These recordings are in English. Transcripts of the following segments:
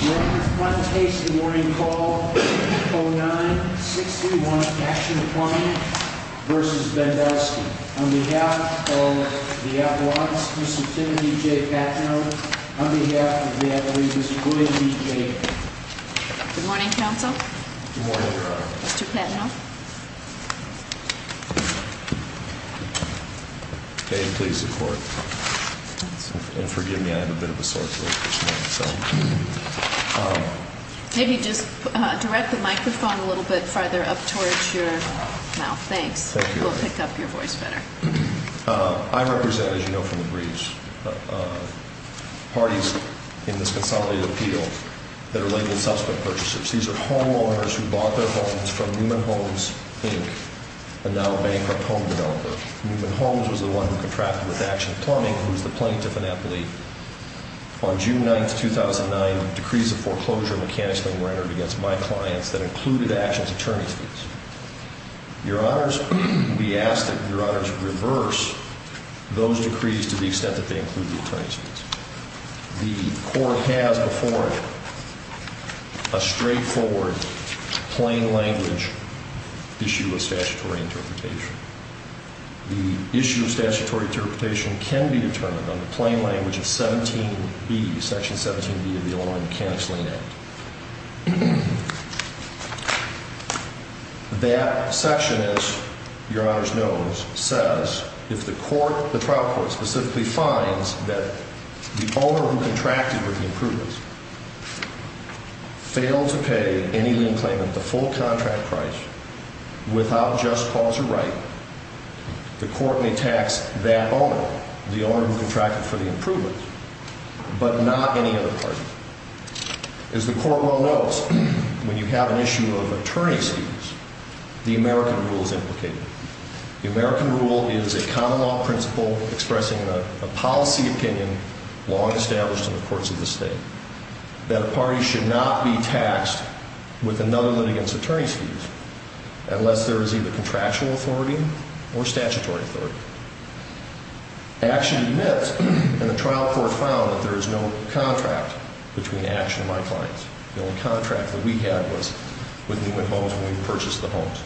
Your Honor, I'd like to case the morning call, 09-631 Action Plumblin v. Bendowski on behalf of the Advocates, Mr. Timothy J. Patnoe, on behalf of the Advocates, Mr. William B. J. Plumblin Good morning, Counsel. Good morning, Your Honor. Mr. Patnoe. May it please the Court. And forgive me, I have a bit of a sore throat this morning. Maybe just direct the microphone a little bit further up towards your mouth. Thanks. It will pick up your voice better. I represent, as you know from the briefs, parties in this consolidated appeal that are labeled suspect purchasers. These are homeowners who bought their homes from Newman Homes, Inc., a now-bankrupt home developer. Newman Homes was the one who contracted with Action Plumbing, who was the plaintiff in that plea. On June 9, 2009, decrees of foreclosure and mechanics were entered against my clients that included Action's attorney's fees. Your Honors, we ask that Your Honors reverse those decrees to the extent that they include the attorney's fees. The Court has before it a straightforward, plain-language issue of statutory interpretation. The issue of statutory interpretation can be determined on the plain language of 17B, Section 17B of the Illinois Mechanics-Lane Act. That section, as Your Honors knows, says if the court, the trial court, specifically finds that the owner who contracted with the improvements failed to pay any lien claim at the full contract price without just cause or right, the court may tax that owner, the owner who contracted for the improvements, but not any other party. As the Court well knows, when you have an issue of attorney's fees, the American rule is implicated. The American rule is a common law principle expressing a policy opinion long established in the courts of the state that a party should not be taxed with another litigant's attorney's fees unless there is either contractual authority or statutory authority. Action admits, and the trial court found, that there is no contract between Action and my clients. The only contract that we had was with Newman Homes when we purchased the homes.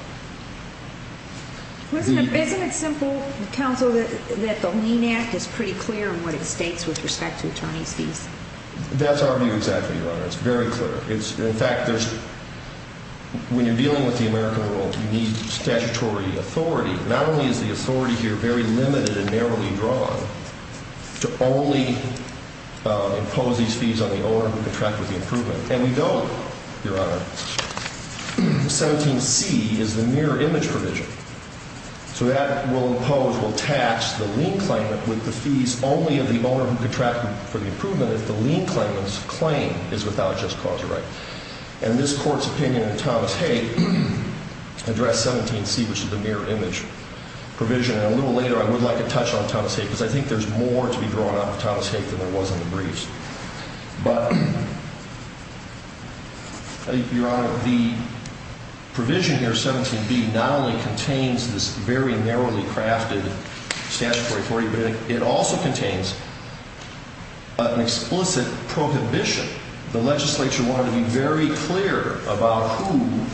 Isn't it simple, Counsel, that the Lane Act is pretty clear in what it states with respect to attorney's fees? That's our view exactly, Your Honors. It's very clear. In fact, when you're dealing with the American rule, you need statutory authority. Not only is the authority here very limited and narrowly drawn to only impose these fees on the owner who contracted the improvement, and we don't, Your Honor. 17c is the mirror image provision, so that will impose, will tax the lien claimant with the fees only of the owner who contracted for the improvement if the lien claimant's claim is without just cause or right. And this Court's opinion in Thomas Haig addressed 17c, which is the mirror image provision, and a little later I would like to touch on Thomas Haig because I think there's more to be drawn out of Thomas Haig than there was in the briefs. But, Your Honor, the provision here, 17b, not only contains this very narrowly crafted statutory authority, but it also contains an explicit prohibition. The legislature wanted to be very clear about who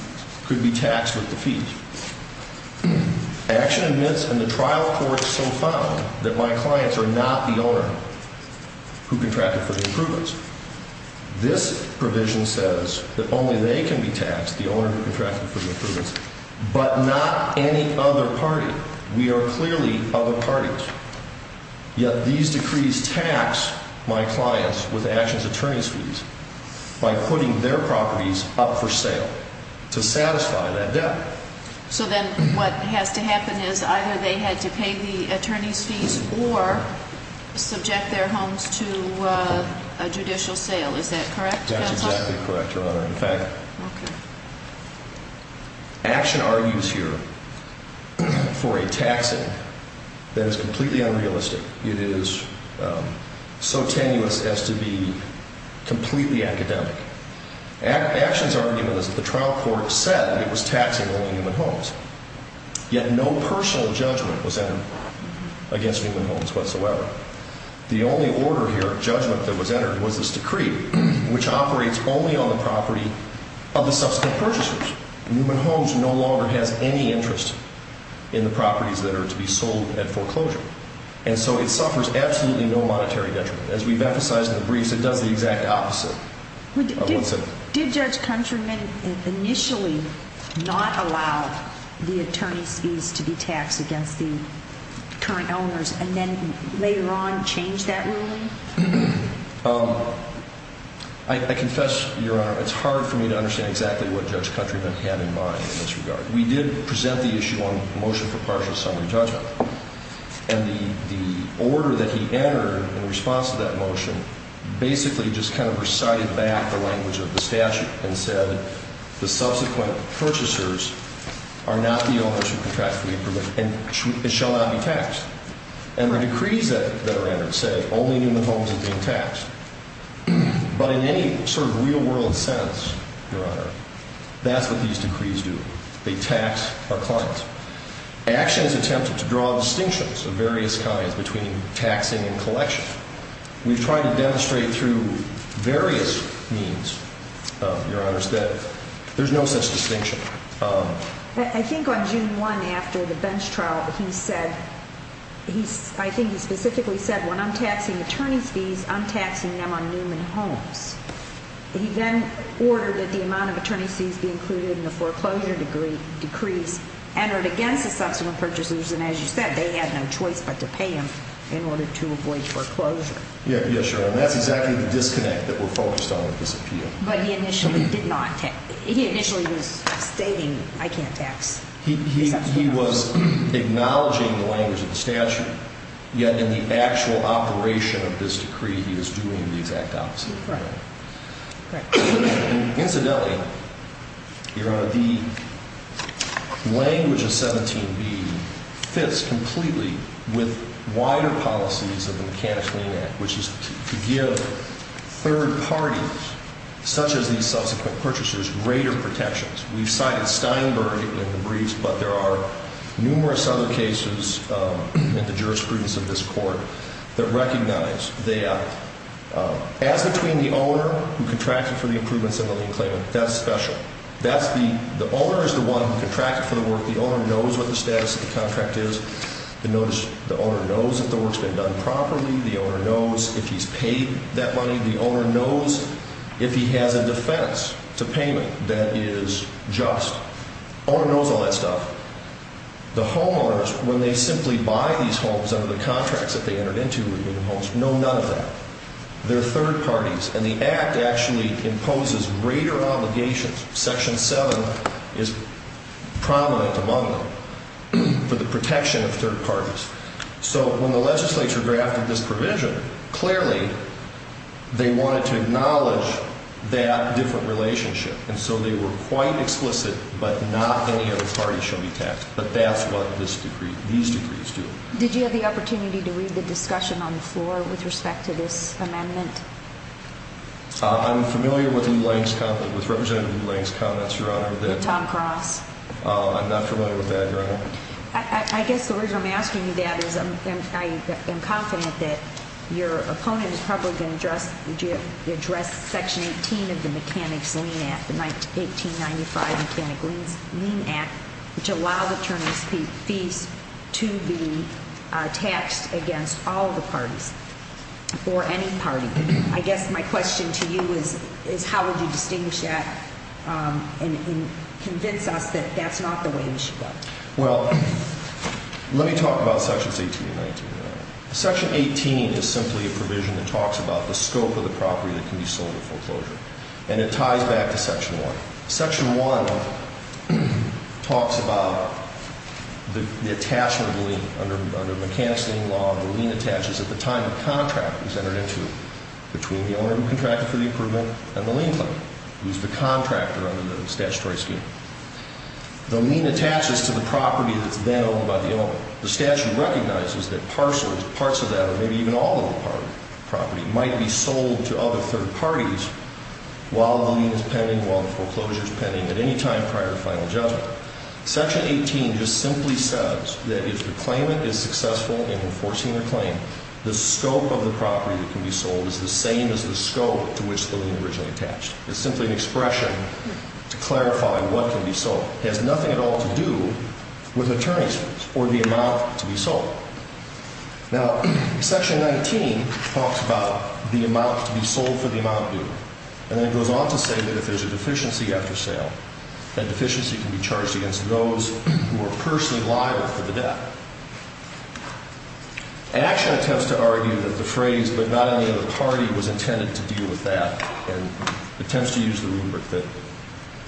could be taxed with the fees. Action admits in the trial court so found that my clients are not the owner who contracted for the improvements. This provision says that only they can be taxed, the owner who contracted for the improvements, but not any other party. We are clearly other parties. Yet these decrees tax my clients with Action's attorney's fees by putting their properties up for sale to satisfy that debt. So then what has to happen is either they had to pay the attorney's fees or subject their homes to a judicial sale, is that correct? That's exactly correct, Your Honor. In fact, Action argues here for a taxing that is completely unrealistic. It is so tenuous as to be completely academic. Action's argument is that the trial court said it was taxing only human homes, yet no personal judgment was entered against human homes whatsoever. The only order here, judgment that was entered, was this decree, which operates only on the property of the subsequent purchasers. Human homes no longer has any interest in the properties that are to be sold at foreclosure. And so it suffers absolutely no monetary detriment. As we've emphasized in the briefs, it does the exact opposite of what's in it. Did Judge Countryman initially not allow the attorney's fees to be taxed against the current owners and then later on change that ruling? I confess, Your Honor, it's hard for me to understand exactly what Judge Countryman had in mind in this regard. We did present the issue on motion for partial summary judgment. And the order that he entered in response to that motion basically just kind of recited back the language of the statute and said, the subsequent purchasers are not the owners who contract the leave permit and shall not be taxed. And the decrees that are entered say only human homes are being taxed. But in any sort of real-world sense, Your Honor, that's what these decrees do. They tax our clients. Action has attempted to draw distinctions of various kinds between taxing and collection. We've tried to demonstrate through various means, Your Honor, that there's no such distinction. I think on June 1 after the bench trial, he said, I think he specifically said, when I'm taxing attorney's fees, I'm taxing them on human homes. He then ordered that the amount of attorney's fees be included in the foreclosure decrees entered against the subsequent purchasers. And as you said, they had no choice but to pay him in order to avoid foreclosure. Yes, Your Honor. And that's exactly the disconnect that we're focused on with this appeal. But he initially did not tax. He initially was stating, I can't tax the subsequent purchasers. He was acknowledging the language of the statute, yet in the actual operation of this decree, he was doing the exact opposite. Right. Incidentally, Your Honor, the language of 17B fits completely with wider policies of the Mechanics-Lean Act, which is to give third parties, such as these subsequent purchasers, greater protections. We've cited Steinberg in the briefs, but there are numerous other cases in the jurisprudence of this court that recognize that As between the owner who contracted for the improvements and the lien claimant, that's special. The owner is the one who contracted for the work. The owner knows what the status of the contract is. The owner knows that the work's been done properly. The owner knows if he's paid that money. The owner knows if he has a defense to payment that is just. The owner knows all that stuff. The homeowners, when they simply buy these homes under the contracts that they entered into, no, none of that. They're third parties. And the Act actually imposes greater obligations, Section 7 is prominent among them, for the protection of third parties. So when the legislature drafted this provision, clearly they wanted to acknowledge that different relationship. And so they were quite explicit, but not any other party should be taxed. But that's what these decrees do. Did you have the opportunity to read the discussion on the floor with respect to this amendment? I'm familiar with Representative Lou Lange's comments, Your Honor. With Tom Cross. I'm not familiar with that, Your Honor. I guess the reason I'm asking you that is I am confident that your opponent is probably going to address Section 18 of the Mechanics Lien Act, the 1895 Mechanic Lien Act, which allowed attorneys' fees to be taxed against all the parties or any party. I guess my question to you is how would you distinguish that and convince us that that's not the way we should go? Well, let me talk about Sections 18 and 19, Your Honor. Section 18 is simply a provision that talks about the scope of the property that can be sold at full closure. And it ties back to Section 1. Section 1 talks about the attachment of the lien. Under Mechanics Lien Law, the lien attaches at the time the contract was entered into between the owner who contracted for the improvement and the lien claimant, who's the contractor under the statutory scheme. The lien attaches to the property that's then owned by the owner. The statute recognizes that parts of that or maybe even all of the property might be sold to other third parties while the lien is pending, while the foreclosure is pending, at any time prior to final judgment. Section 18 just simply says that if the claimant is successful in enforcing their claim, the scope of the property that can be sold is the same as the scope to which the lien originally attached. It's simply an expression to clarify what can be sold. It has nothing at all to do with attorneys or the amount to be sold. Now, Section 19 talks about the amount to be sold for the amount due. And then it goes on to say that if there's a deficiency after sale, that deficiency can be charged against those who are personally liable for the debt. Action attempts to argue that the phrase, but not only of the party, was intended to deal with that and attempts to use the rubric that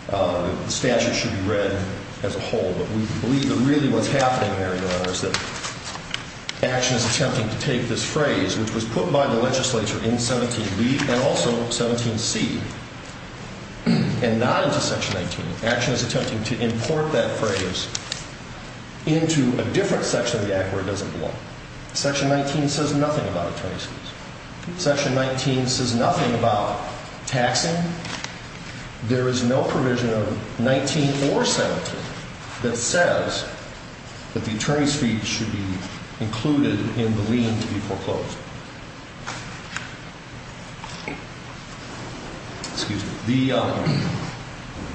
the statute should be read as a whole. But we believe that really what's happening there, Your Honor, is that action is attempting to take this phrase, which was put by the legislature in 17b and also 17c, and not into Section 19. Action is attempting to import that phrase into a different section of the act where it doesn't belong. Section 19 says nothing about attorney's fees. Section 19 says nothing about taxing. There is no provision of 19 or 17 that says that the attorney's fee should be included in the lien to be foreclosed.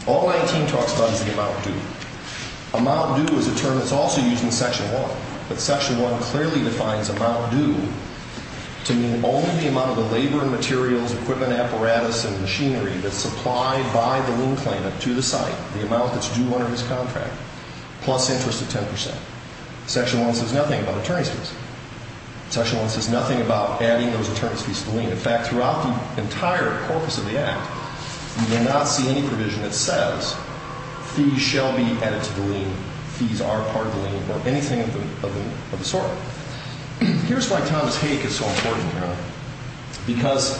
All 19 talks about is the amount due. Amount due is a term that's also used in Section 1. But Section 1 clearly defines amount due to mean only the amount of the labor and materials, equipment, apparatus, and machinery that's supplied by the lien claimant to the site, the amount that's due under this contract, plus interest of 10%. Section 1 says nothing about attorney's fees. Section 1 says nothing about adding those attorney's fees to the lien. In fact, throughout the entire corpus of the act, you will not see any provision that says fees shall be added to the lien, fees are part of the lien, or anything of the sort. Here's why Thomas Hake is so important, Your Honor. Because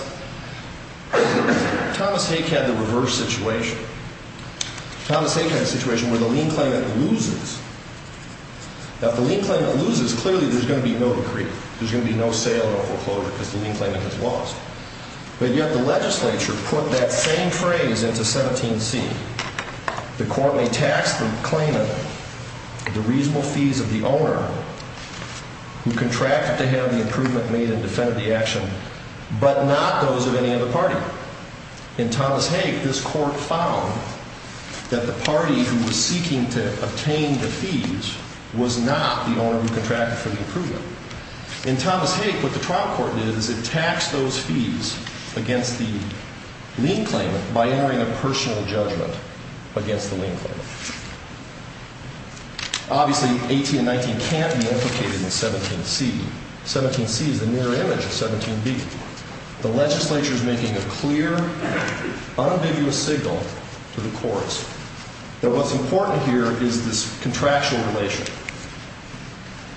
Thomas Hake had the reverse situation. Thomas Hake had a situation where the lien claimant loses. Now, if the lien claimant loses, clearly there's going to be no decree. There's going to be no sale or foreclosure because the lien claimant has lost. But yet the legislature put that same phrase into 17C. The court may tax the claimant the reasonable fees of the owner who contracted to have the improvement made and defended the action, but not those of any other party. In Thomas Hake, this court found that the party who was seeking to obtain the fees was not the owner who contracted for the improvement. In Thomas Hake, what the trial court did is it taxed those fees against the lien claimant by entering a personal judgment against the lien claimant. Obviously, 18 and 19 can't be implicated in 17C. 17C is the mirror image of 17B. The legislature is making a clear, unambiguous signal to the courts that what's important here is this contractual relation.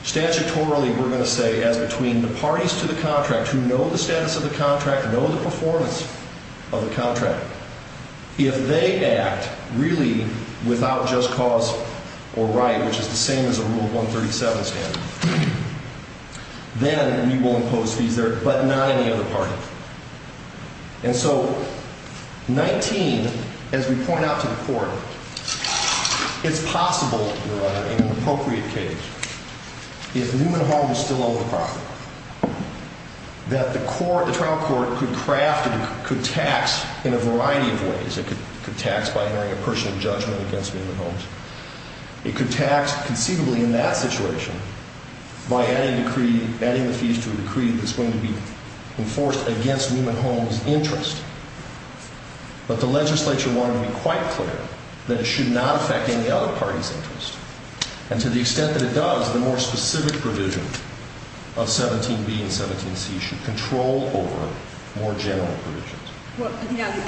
Statutorily, we're going to say as between the parties to the contract who know the status of the contract, know the performance of the contract, if they act really without just cause or right, which is the same as a Rule 137 standard, then we will impose fees there, but not any other party. And so 19, as we point out to the court, it's possible, Your Honor, in an appropriate case, if Newman Homes is still on the property, that the trial court could tax in a variety of ways. It could tax by entering a personal judgment against Newman Homes. It could tax conceivably in that situation by adding the fees to a decree that's going to be enforced against Newman Homes' interest. But the legislature wanted to be quite clear that it should not affect any other party's interest. And to the extent that it does, the more specific provision of 17B and 17C should control over more general provisions. Well,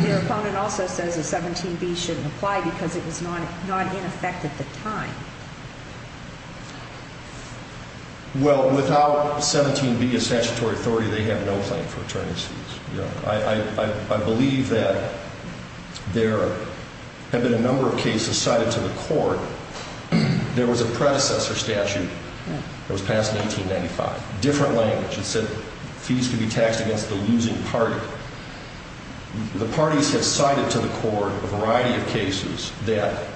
your opponent also says that 17B shouldn't apply because it was not in effect at the time. Well, without 17B as statutory authority, they have no claim for attorney's fees. I believe that there have been a number of cases cited to the court. There was a predecessor statute that was passed in 1895, different language. It said fees could be taxed against the losing party. The parties have cited to the court a variety of cases that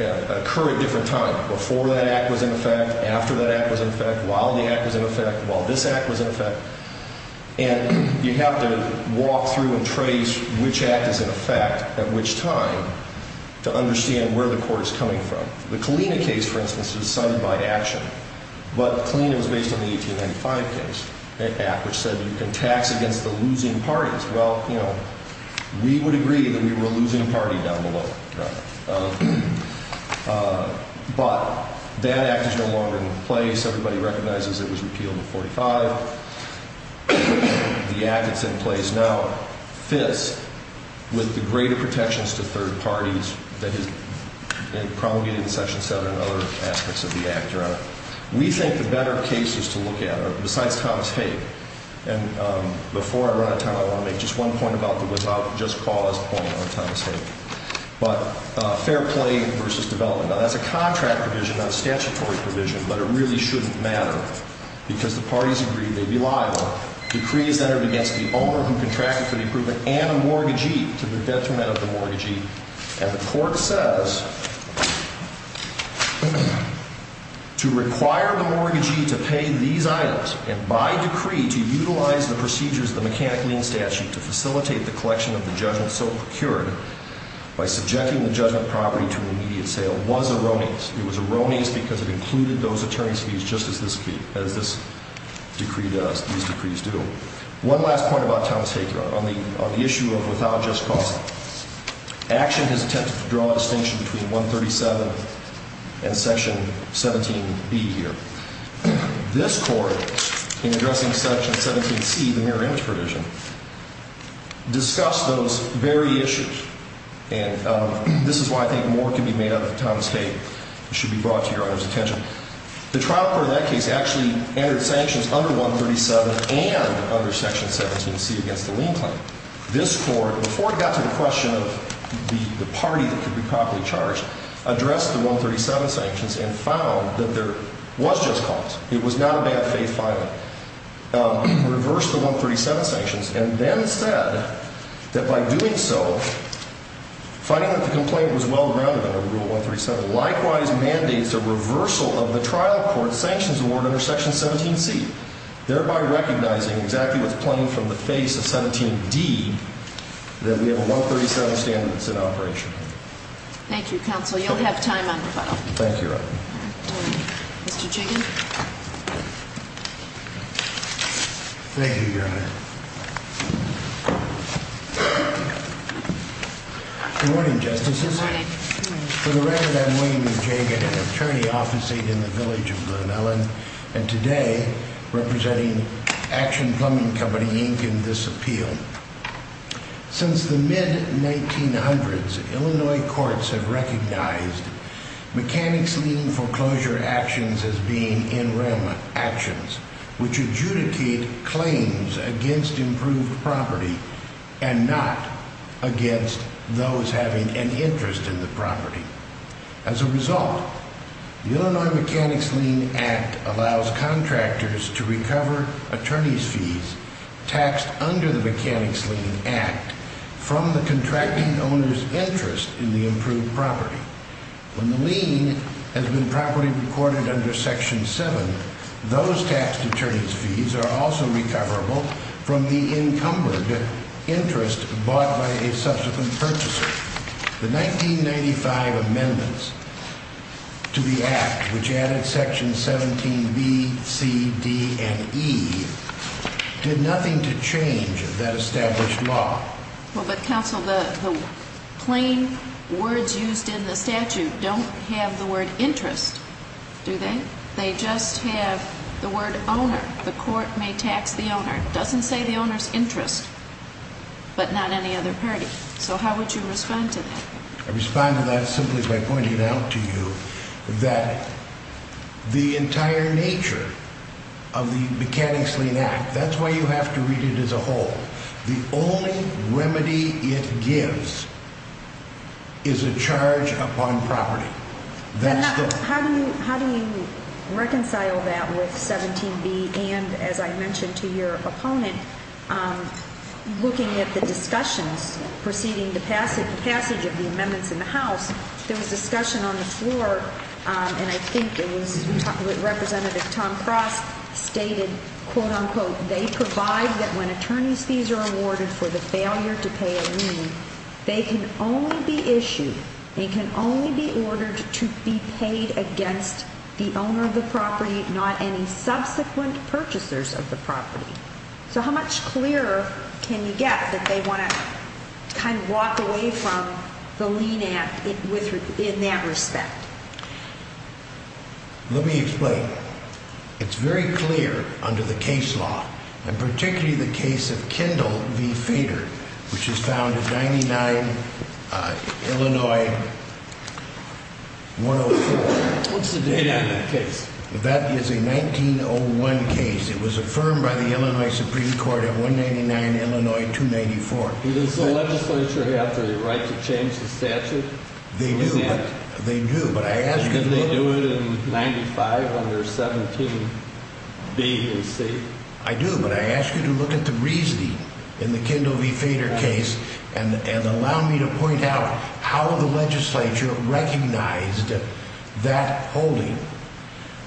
occur at different times, before that act was in effect, after that act was in effect, while the act was in effect, while this act was in effect. And you have to walk through and trace which act is in effect at which time to understand where the court is coming from. The Kalina case, for instance, was cited by action. But Kalina was based on the 1895 case, an act which said you can tax against the losing parties. Well, you know, we would agree that we were a losing party down below. But that act is no longer in place. Everybody recognizes it was repealed in 45. The act that's in place now fits with the greater protections to third parties that is promulgated in Section 7 and other aspects of the act. We think the better cases to look at are, besides Thomas Haig, and before I run out of time, I want to make just one point about the without just cause point on Thomas Haig. But fair play versus development. Now, that's a contract provision, not a statutory provision, but it really shouldn't matter because the parties agreed they'd be liable. Decree is entered against the owner who contracted for the improvement and a mortgagee to the detriment of the mortgagee. And the court says to require the mortgagee to pay these items and by decree to utilize the procedures of the mechanic lien statute to facilitate the collection of the judgment so procured by subjecting the judgment property to an immediate sale was a ronies. It was a ronies because it included those attorney's fees just as this decree does, these decrees do. One last point about Thomas Haig, Your Honor, on the issue of without just cause. Action has attempted to draw a distinction between 137 and Section 17B here. This Court, in addressing Section 17C, the mirror image provision, discussed those very issues. And this is why I think more can be made out of Thomas Haig. It should be brought to Your Honor's attention. The trial court in that case actually entered sanctions under 137 and under Section 17C against the lien claim. This Court, before it got to the question of the party that could be properly charged, addressed the 137 sanctions and found that there was just cause. It was not a bad faith filing. This Court, in addressing the 137 sanctions, reversed the 137 sanctions and then said that by doing so, finding that the complaint was well-rounded under Rule 137, likewise mandates a reversal of the trial court's sanctions award under Section 17C, thereby recognizing exactly what's playing from the face of 17D that we have a 137 standard that's in operation. Thank you, Counsel. You'll have time on the file. Thank you, Your Honor. Mr. Jagan. Thank you, Your Honor. Good morning, Justices. Good morning. For the record, I'm William Jagan, an attorney officing in the Village of Glen Ellyn, and today representing Action Plumbing Company, Inc., in this appeal. Since the mid-1900s, Illinois courts have recognized mechanics lien foreclosure actions as being in-rem actions, which adjudicate claims against improved property and not against those having an interest in the property. As a result, the Illinois Mechanics Lien Act allows contractors to recover attorneys' fees taxed under the Mechanics Lien Act from the contracting owner's interest in the improved property. When the lien has been properly recorded under Section 7, those taxed attorneys' fees are also recoverable from the encumbered interest bought by a subsequent purchaser. The 1995 amendments to the Act, which added Section 17b, c, d, and e, did nothing to change that established law. Well, but, Counsel, the plain words used in the statute don't have the word interest, do they? They just have the word owner. The court may tax the owner. It doesn't say the owner's interest, but not any other party. So how would you respond to that? I'd respond to that simply by pointing out to you that the entire nature of the Mechanics Lien Act, that's why you have to read it as a whole, the only remedy it gives is a charge upon property. How do you reconcile that with 17b and, as I mentioned to your opponent, looking at the discussions preceding the passage of the amendments in the House? There was discussion on the floor, and I think it was Representative Tom Frost stated, quote-unquote, they provide that when attorneys' fees are awarded for the failure to pay a lien, they can only be issued, they can only be ordered to be paid against the owner of the property, not any subsequent purchasers of the property. So how much clearer can you get that they want to kind of walk away from the lien act in that respect? Let me explain. It's very clear under the case law, and particularly the case of Kendall v. Feder, which is found in 99 Illinois 104. What's the date on that case? That is a 1901 case. It was affirmed by the Illinois Supreme Court in 199 Illinois 294. Does the legislature have the right to change the statute? They do, but I ask you to look at the reasoning in the Kendall v. Feder case and allow me to point out how the legislature recognized that holding.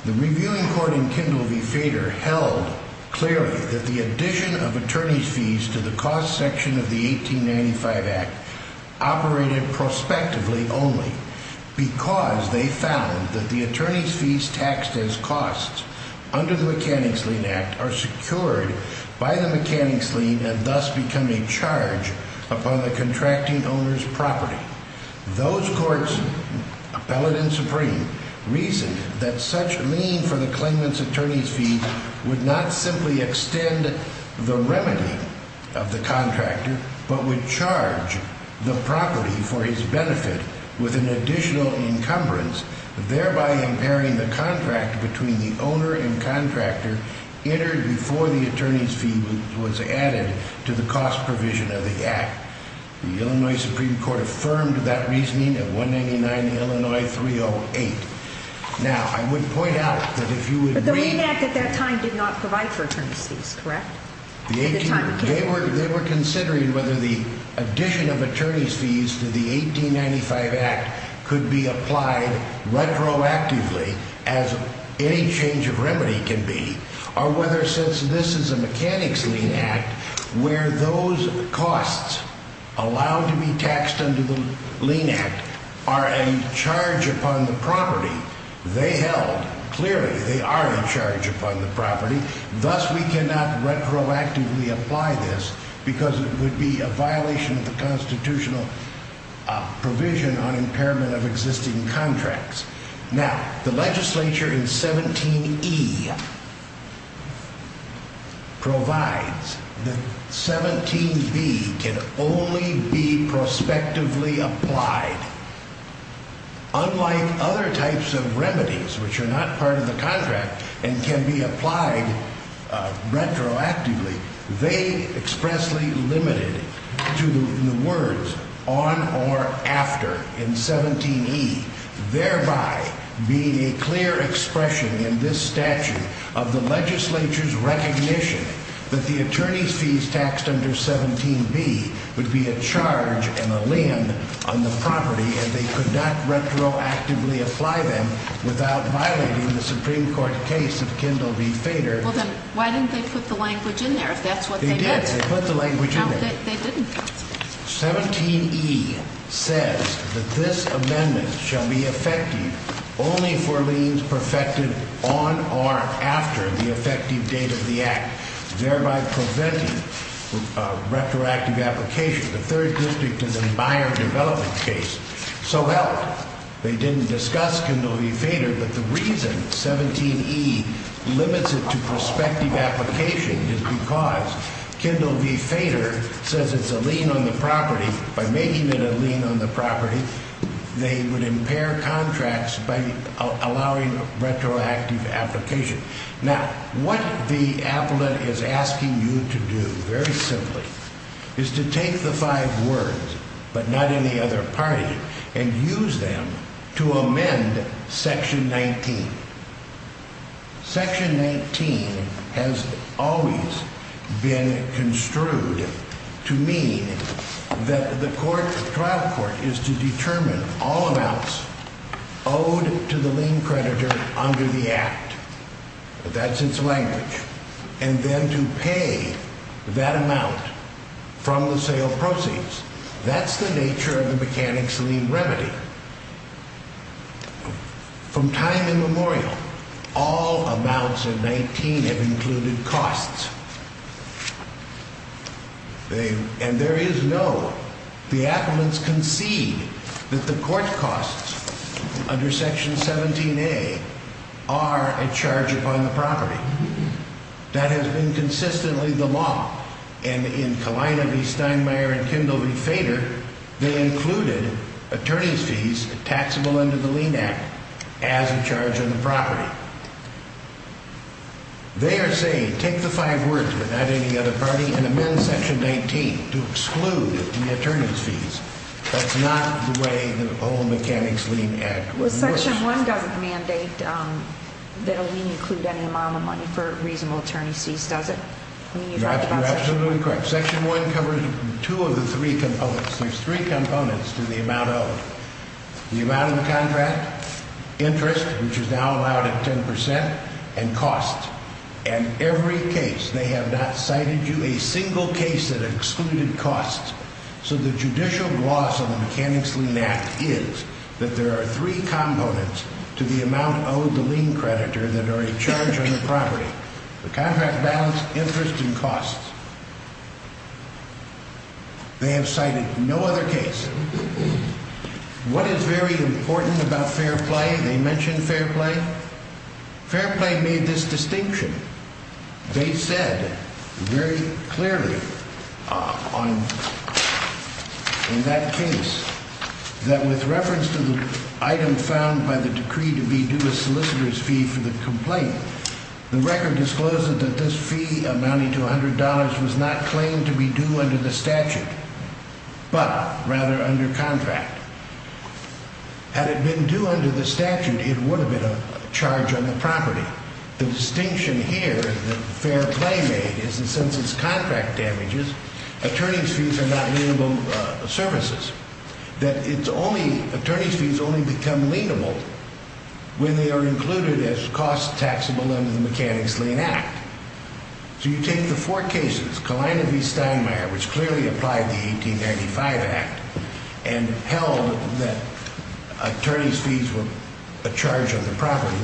The reviewing court in Kendall v. Feder held clearly that the addition of attorney's fees to the cost section of the 1895 act operated prospectively only because they found that the attorney's fees taxed as costs under the mechanics lien act are secured by the mechanics lien and thus become a charge upon the contracting owner's property. Those courts, appellate and supreme, reasoned that such lien for the claimant's attorney's fee would not simply extend the remedy of the contractor, but would charge the property for his benefit with an additional encumbrance, thereby impairing the contract between the owner and contractor entered before the attorney's fee was added to the cost provision of the act. The Illinois Supreme Court affirmed that reasoning in 199 Illinois 308. But the lien act at that time did not provide for attorney's fees, correct? They were considering whether the addition of attorney's fees to the 1895 act could be applied retroactively as any change of remedy can be, or whether since this is a mechanics lien act, where those costs allowed to be taxed under the lien act are a charge upon the property, they held clearly they are a charge upon the property. Thus, we cannot retroactively apply this because it would be a violation of the constitutional provision on impairment of existing contracts. Now, the legislature in 17E provides that 17B can only be prospectively applied unlike other types of remedies, which are not part of the contract and can be applied retroactively. They expressly limited to the words on or after in 17E, thereby being a clear expression in this statute of the legislature's recognition that the attorney's fees taxed under 17B would be a charge and a lien on the property, and they could not retroactively apply them without violating the Supreme Court case of Kendall v. Feder. Well, then why didn't they put the language in there if that's what they did? They did. They put the language in there. No, they didn't. 17E says that this amendment shall be effective only for liens perfected on or after the effective date of the act, thereby preventing retroactive application. The third district is a buyer development case. So, well, they didn't discuss Kendall v. Feder, but the reason 17E limits it to prospective application is because Kendall v. Feder says it's a lien on the property. By making it a lien on the property, they would impair contracts by allowing retroactive application. Now, what the appellate is asking you to do, very simply, is to take the five words, but not in the other party, and use them to amend section 19. Section 19 has always been construed to mean that the trial court is to determine all amounts owed to the lien creditor under the act. That's its language. And then to pay that amount from the sale proceeds. That's the nature of the mechanics lien remedy. From time immemorial, all amounts of 19 have included costs. And there is no, the appellants concede that the court costs under section 17A are a charge upon the property. That has been consistently the law. And in Kalina v. Steinmeier and Kendall v. Feder, they included attorney's fees taxable under the lien act as a charge on the property. They are saying, take the five words, but not in the other party, and amend section 19 to exclude the attorney's fees. That's not the way the whole mechanics lien act works. Well, section 1 doesn't mandate that a lien include any amount of money for reasonable attorney's fees, does it? You're absolutely correct. Section 1 covers two of the three components. There's three components to the amount owed. The amount of the contract, interest, which is now allowed at 10 percent, and cost. And every case, they have not cited you a single case that excluded costs. So the judicial loss of the mechanics lien act is that there are three components to the amount owed to the lien creditor that are a charge on the property. The contract balance, interest, and cost. They have cited no other case. What is very important about fair play? They mentioned fair play. Fair play made this distinction. They said very clearly in that case that with reference to the item found by the decree to be due a solicitor's fee for the complaint, the record discloses that this fee amounting to $100 was not claimed to be due under the statute, but rather under contract. Had it been due under the statute, it would have been a charge on the property. Now, the distinction here, the fair play made, is that since it's contract damages, attorney's fees are not lienable services. That it's only attorney's fees only become lienable when they are included as costs taxable under the mechanics lien act. So you take the four cases. Kaleina v. Steinmeier, which clearly applied the 1895 act and held that attorney's fees were a charge on the property.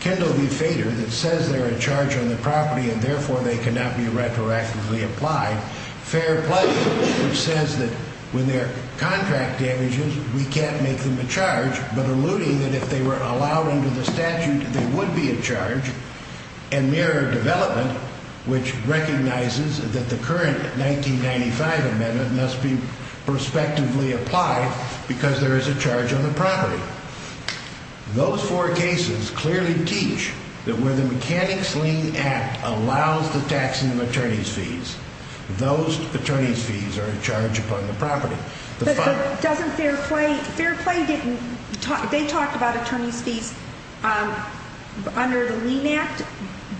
Kendall v. Fader, that says they're a charge on the property and therefore they cannot be retroactively applied. Fair play, which says that when they're contract damages, we can't make them a charge. But alluding that if they were allowed under the statute, they would be a charge. And mirror development, which recognizes that the current 1995 amendment must be prospectively applied because there is a charge on the property. Those four cases clearly teach that where the mechanics lien act allows the taxing of attorney's fees, those attorney's fees are a charge upon the property. But doesn't fair play, fair play didn't, they talked about attorney's fees under the lien act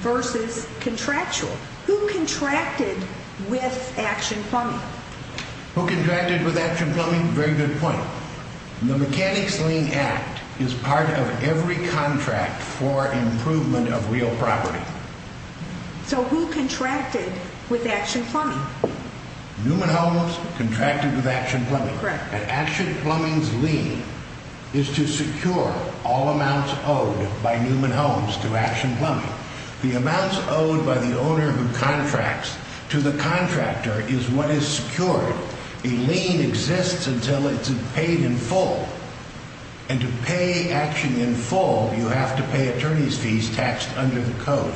versus contractual. Who contracted with Action Plumbing? Who contracted with Action Plumbing? Very good point. The mechanics lien act is part of every contract for improvement of real property. So who contracted with Action Plumbing? Newman Homes contracted with Action Plumbing. Correct. And Action Plumbing's lien is to secure all amounts owed by Newman Homes to Action Plumbing. The amounts owed by the owner who contracts to the contractor is what is secured. A lien exists until it's paid in full. And to pay Action in full, you have to pay attorney's fees taxed under the code.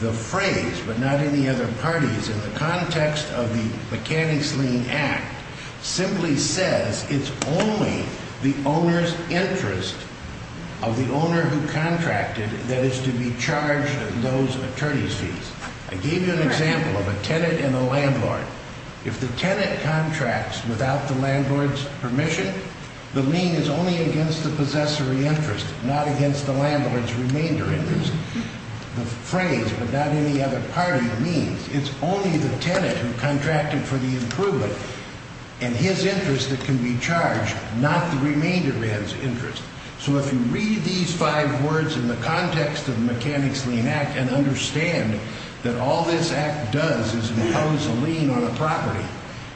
The phrase, but not in the other parties, in the context of the mechanics lien act, simply says it's only the owner's interest of the owner who contracted that is to be charged those attorney's fees. I gave you an example of a tenant and a landlord. If the tenant contracts without the landlord's permission, the lien is only against the possessory interest, not against the landlord's remainder interest. The phrase, but not in the other party, means it's only the tenant who contracted for the improvement and his interest that can be charged, not the remainder man's interest. So if you read these five words in the context of the mechanics lien act and understand that all this act does is impose a lien on a property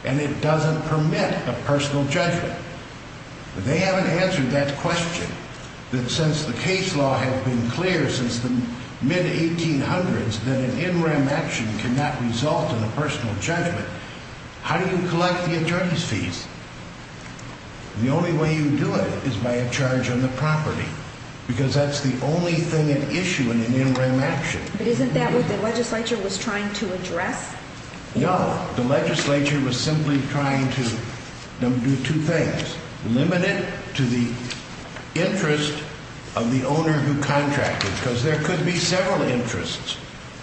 and it doesn't permit a personal judgment, they haven't answered that question that since the case law has been clear since the mid-1800s that an NREM action cannot result in a personal judgment. How do you collect the attorney's fees? The only way you do it is by a charge on the property because that's the only thing at issue in an NREM action. But isn't that what the legislature was trying to address? No, the legislature was simply trying to do two things. Limit it to the interest of the owner who contracted because there could be several interests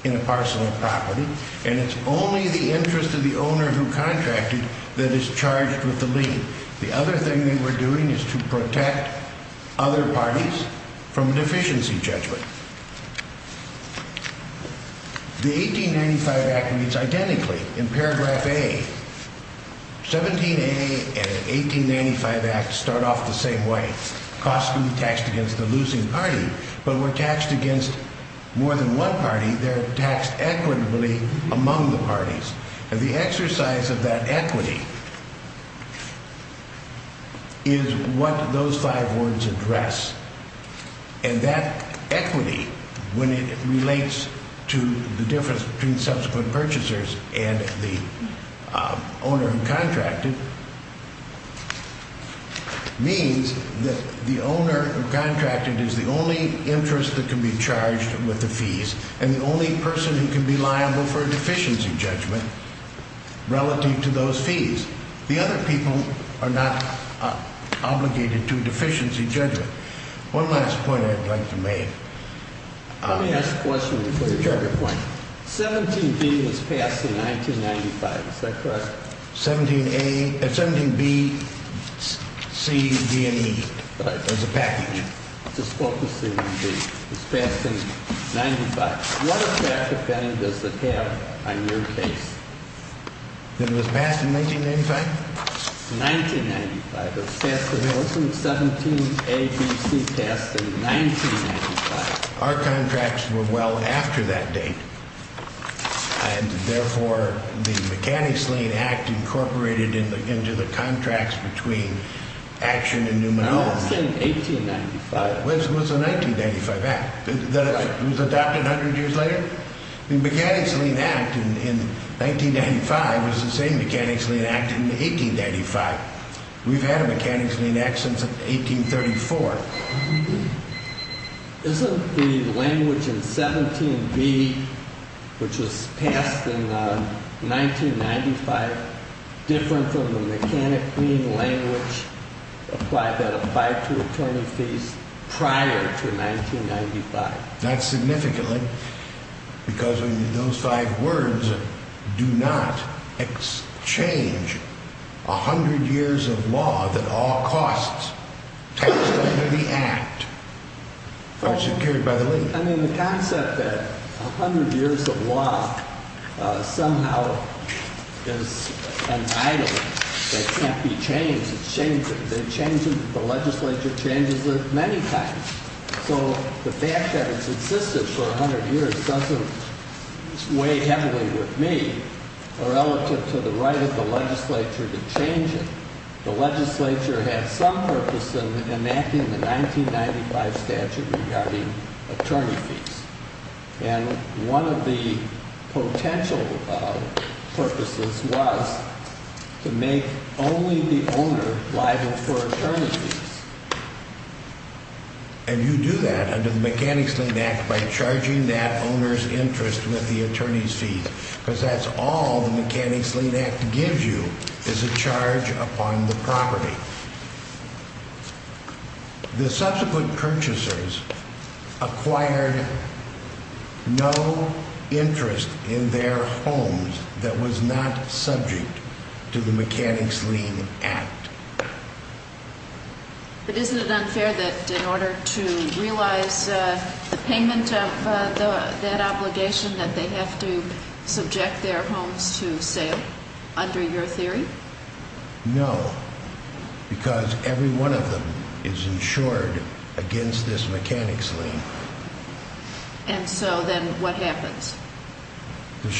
in a parcel of property and it's only the interest of the owner who contracted that is charged with the lien. The other thing they were doing is to protect other parties from a deficiency judgment. The 1895 act reads identically in paragraph A. 17A and 1895 act start off the same way. Costs can be taxed against the losing party, but when taxed against more than one party, they're taxed equitably among the parties. And the exercise of that equity is what those five words address. And that equity, when it relates to the difference between subsequent purchasers and the owner who contracted, means that the owner who contracted is the only interest that can be charged with the fees and the only person who can be liable for a deficiency judgment relative to those fees. The other people are not obligated to a deficiency judgment. One last point I'd like to make. Let me ask a question before you make your point. 17B was passed in 1995. Is that correct? 17B, C, D, and E as a package. Just focusing on B. It was passed in 1995. What effect does it have on your case? That it was passed in 1995? 1995. It was passed in 19… 17A, B, C passed in 1995. Our contracts were well after that date. And therefore, the mechanics lien act incorporated into the contracts between Action and Newman. No, I'm saying 1895. It was a 1995 act. It was adopted 100 years later? The Mechanics Lien Act in 1995 was the same Mechanics Lien Act in 1895. We've had a Mechanics Lien Act since 1834. Isn't the language in 17B, which was passed in 1995, different from the mechanic lien language applied to attorney fees prior to 1995? Not significantly. Because those five words do not exchange 100 years of law that all costs taxed under the act are secured by the lien. I mean, the concept that 100 years of law somehow is an item that can't be changed, the legislature changes it many times. So, the fact that it's existed for 100 years doesn't weigh heavily with me relative to the right of the legislature to change it. The legislature had some purpose in enacting the 1995 statute regarding attorney fees. And one of the potential purposes was to make only the owner liable for attorney fees. And you do that under the Mechanics Lien Act by charging that owner's interest with the attorney's fees. Because that's all the Mechanics Lien Act gives you is a charge upon the property. The subsequent purchasers acquired no interest in their homes that was not subject to the Mechanics Lien Act. But isn't it unfair that in order to realize the payment of that obligation that they have to subject their homes to sale, under your theory? No, because every one of them is insured against this Mechanics Lien. And so then what happens?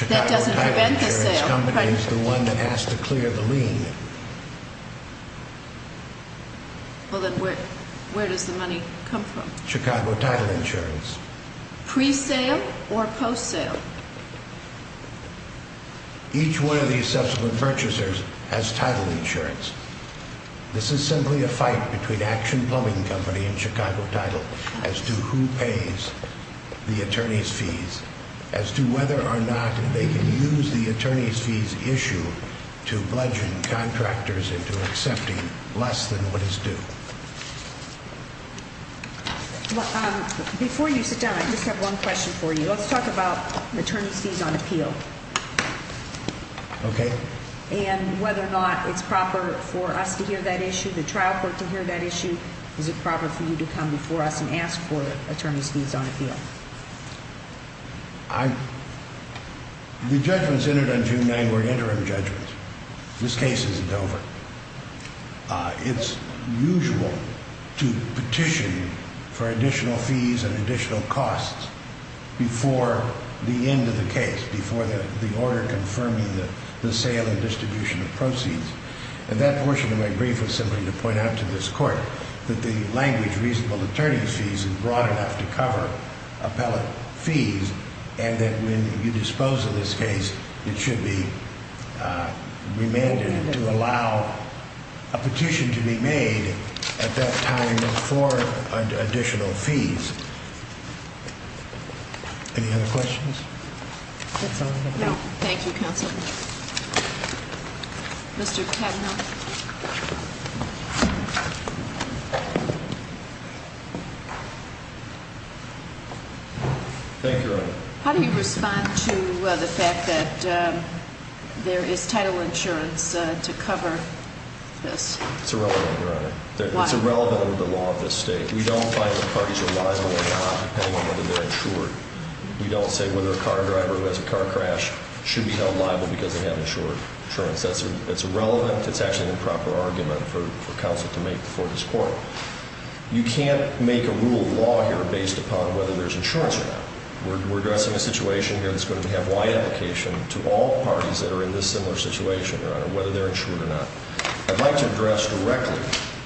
That doesn't prevent the sale. Well, then where does the money come from? Pre-sale or post-sale? As to whether or not they can use the attorney's fees issue to bludgeon contractors into accepting less than what is due. Before you sit down, I just have one question for you. Let's talk about attorney's fees on appeal. Okay. And whether or not it's proper for us to hear that issue, the trial court to hear that issue. Is it proper for you to come before us and ask for attorney's fees on appeal? The judgments entered on June 9 were interim judgments. This case isn't over. It's usual to petition for additional fees and additional costs before the end of the case, before the order confirming the sale and distribution of proceeds. And that portion of my brief was simply to point out to this court that the language reasonable attorney's fees is broad enough to cover appellate fees. And that when you dispose of this case, it should be remanded to allow a petition to be made at that time for additional fees. Any other questions? No. Thank you, counsel. Mr. Kavanaugh. Thank you, Your Honor. How do you respond to the fact that there is title insurance to cover this? It's irrelevant, Your Honor. Why? It's irrelevant under the law of this state. We don't find the parties are liable or not, depending on whether they're insured. We don't say whether a car driver who has a car crash should be held liable because they have insurance. That's irrelevant. It's actually an improper argument for counsel to make before this court. You can't make a rule of law here based upon whether there's insurance or not. We're addressing a situation here that's going to have wide application to all parties that are in this similar situation, Your Honor, whether they're insured or not. I'd like to address directly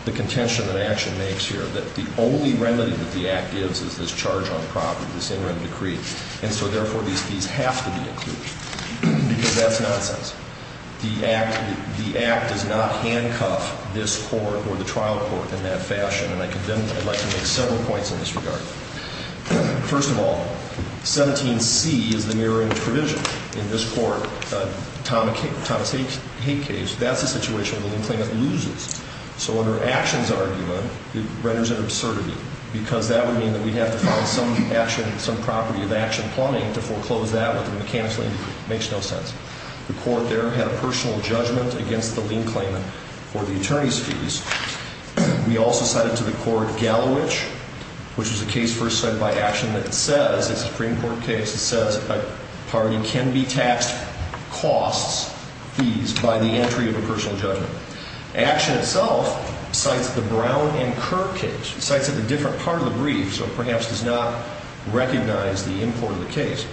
the contention that action makes here, that the only remedy that the Act gives is this charge on property, this interim decree. And so, therefore, these fees have to be included, because that's nonsense. The Act does not handcuff this court or the trial court in that fashion. And I'd like to make several points in this regard. First of all, 17C is the mirroring provision. In this court, Thomas Haight's case, that's a situation where the lien claimant loses. So under action's argument, it renders an absurdity, because that would mean that we'd have to find some action, some property of action plumbing to foreclose that with a mechanical injury. It makes no sense. The court there had a personal judgment against the lien claimant for the attorney's fees. We also cite it to the court Gallowich, which is a case first cited by action that says, it's a Supreme Court case that says a party can be taxed costs, fees, by the entry of a personal judgment. Action itself cites the Brown and Kirk case. It cites it in a different part of the brief, so it perhaps does not recognize the import of the case.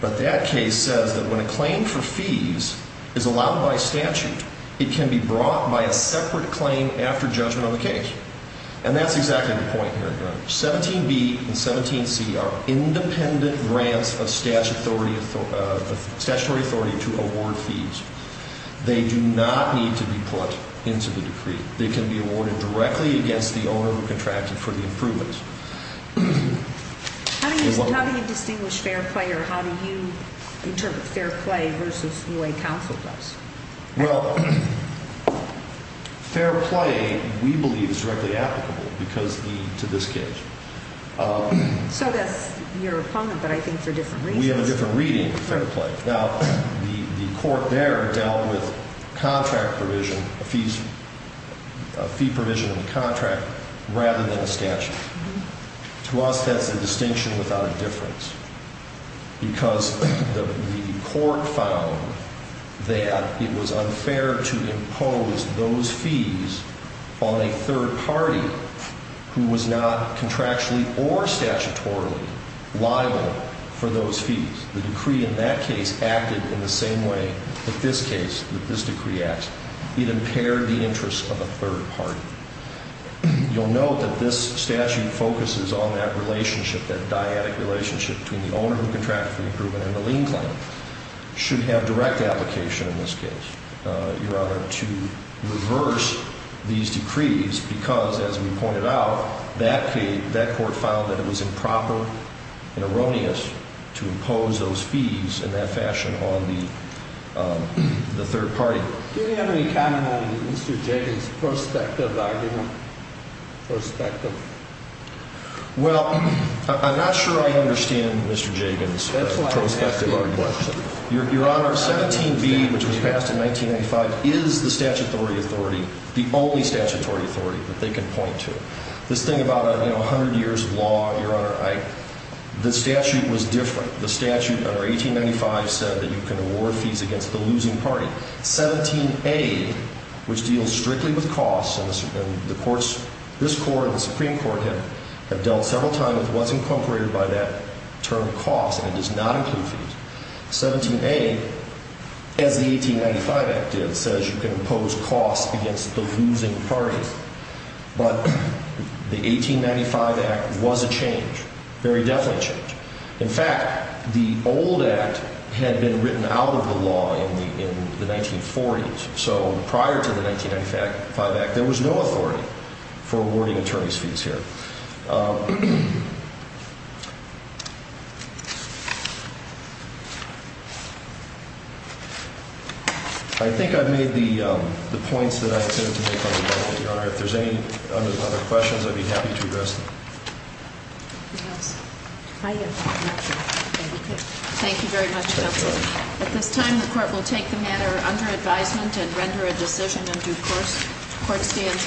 But that case says that when a claim for fees is allowed by statute, it can be brought by a separate claim after judgment on the case. And that's exactly the point here. 17B and 17C are independent grants of statutory authority to award fees. They do not need to be put into the decree. They can be awarded directly against the owner who contracted for the improvements. How do you distinguish fair play or how do you interpret fair play versus the way counsel does? Well, fair play we believe is directly applicable because to this case. So that's your opponent, but I think for different reasons. We have a different reading of fair play. Now, the court there dealt with contract provision, fees, fee provision in the contract rather than the statute. To us, that's a distinction without a difference because the court found that it was unfair to impose those fees on a third party who was not contractually or statutorily liable for those fees. The decree in that case acted in the same way that this case, that this decree acts. It impaired the interests of a third party. You'll note that this statute focuses on that relationship, that dyadic relationship between the owner who contracted for the improvement and the lien claim. Should have direct application in this case, Your Honor, to reverse these decrees because, as we pointed out, that court found that it was improper and erroneous to impose those fees in that fashion on the third party. Do you have any comment on Mr. Jagen's prospective argument, prospective? Well, I'm not sure I understand Mr. Jagen's prospective argument. Your Honor, 17b, which was passed in 1995, is the statutory authority, the only statutory authority that they can point to. This thing about 100 years of law, Your Honor, the statute was different. The statute under 1895 said that you can award fees against the losing party. 17a, which deals strictly with costs, and the courts, this court and the Supreme Court have dealt several times with what's incorporated by that term cost, and it does not include fees. 17a, as the 1895 Act did, says you can impose costs against the losing party. But the 1895 Act was a change, very definite change. In fact, the old Act had been written out of the law in the 1940s. So prior to the 1995 Act, there was no authority for awarding attorney's fees here. I think I've made the points that I intended to make on the document, Your Honor. If there's any other questions, I'd be happy to address them. Anything else? I have not, Your Honor. Okay. Thank you very much, counsel. At this time, the court will take the matter under advisement and render a decision in due course. Court stands adjourned for the day. Thank you.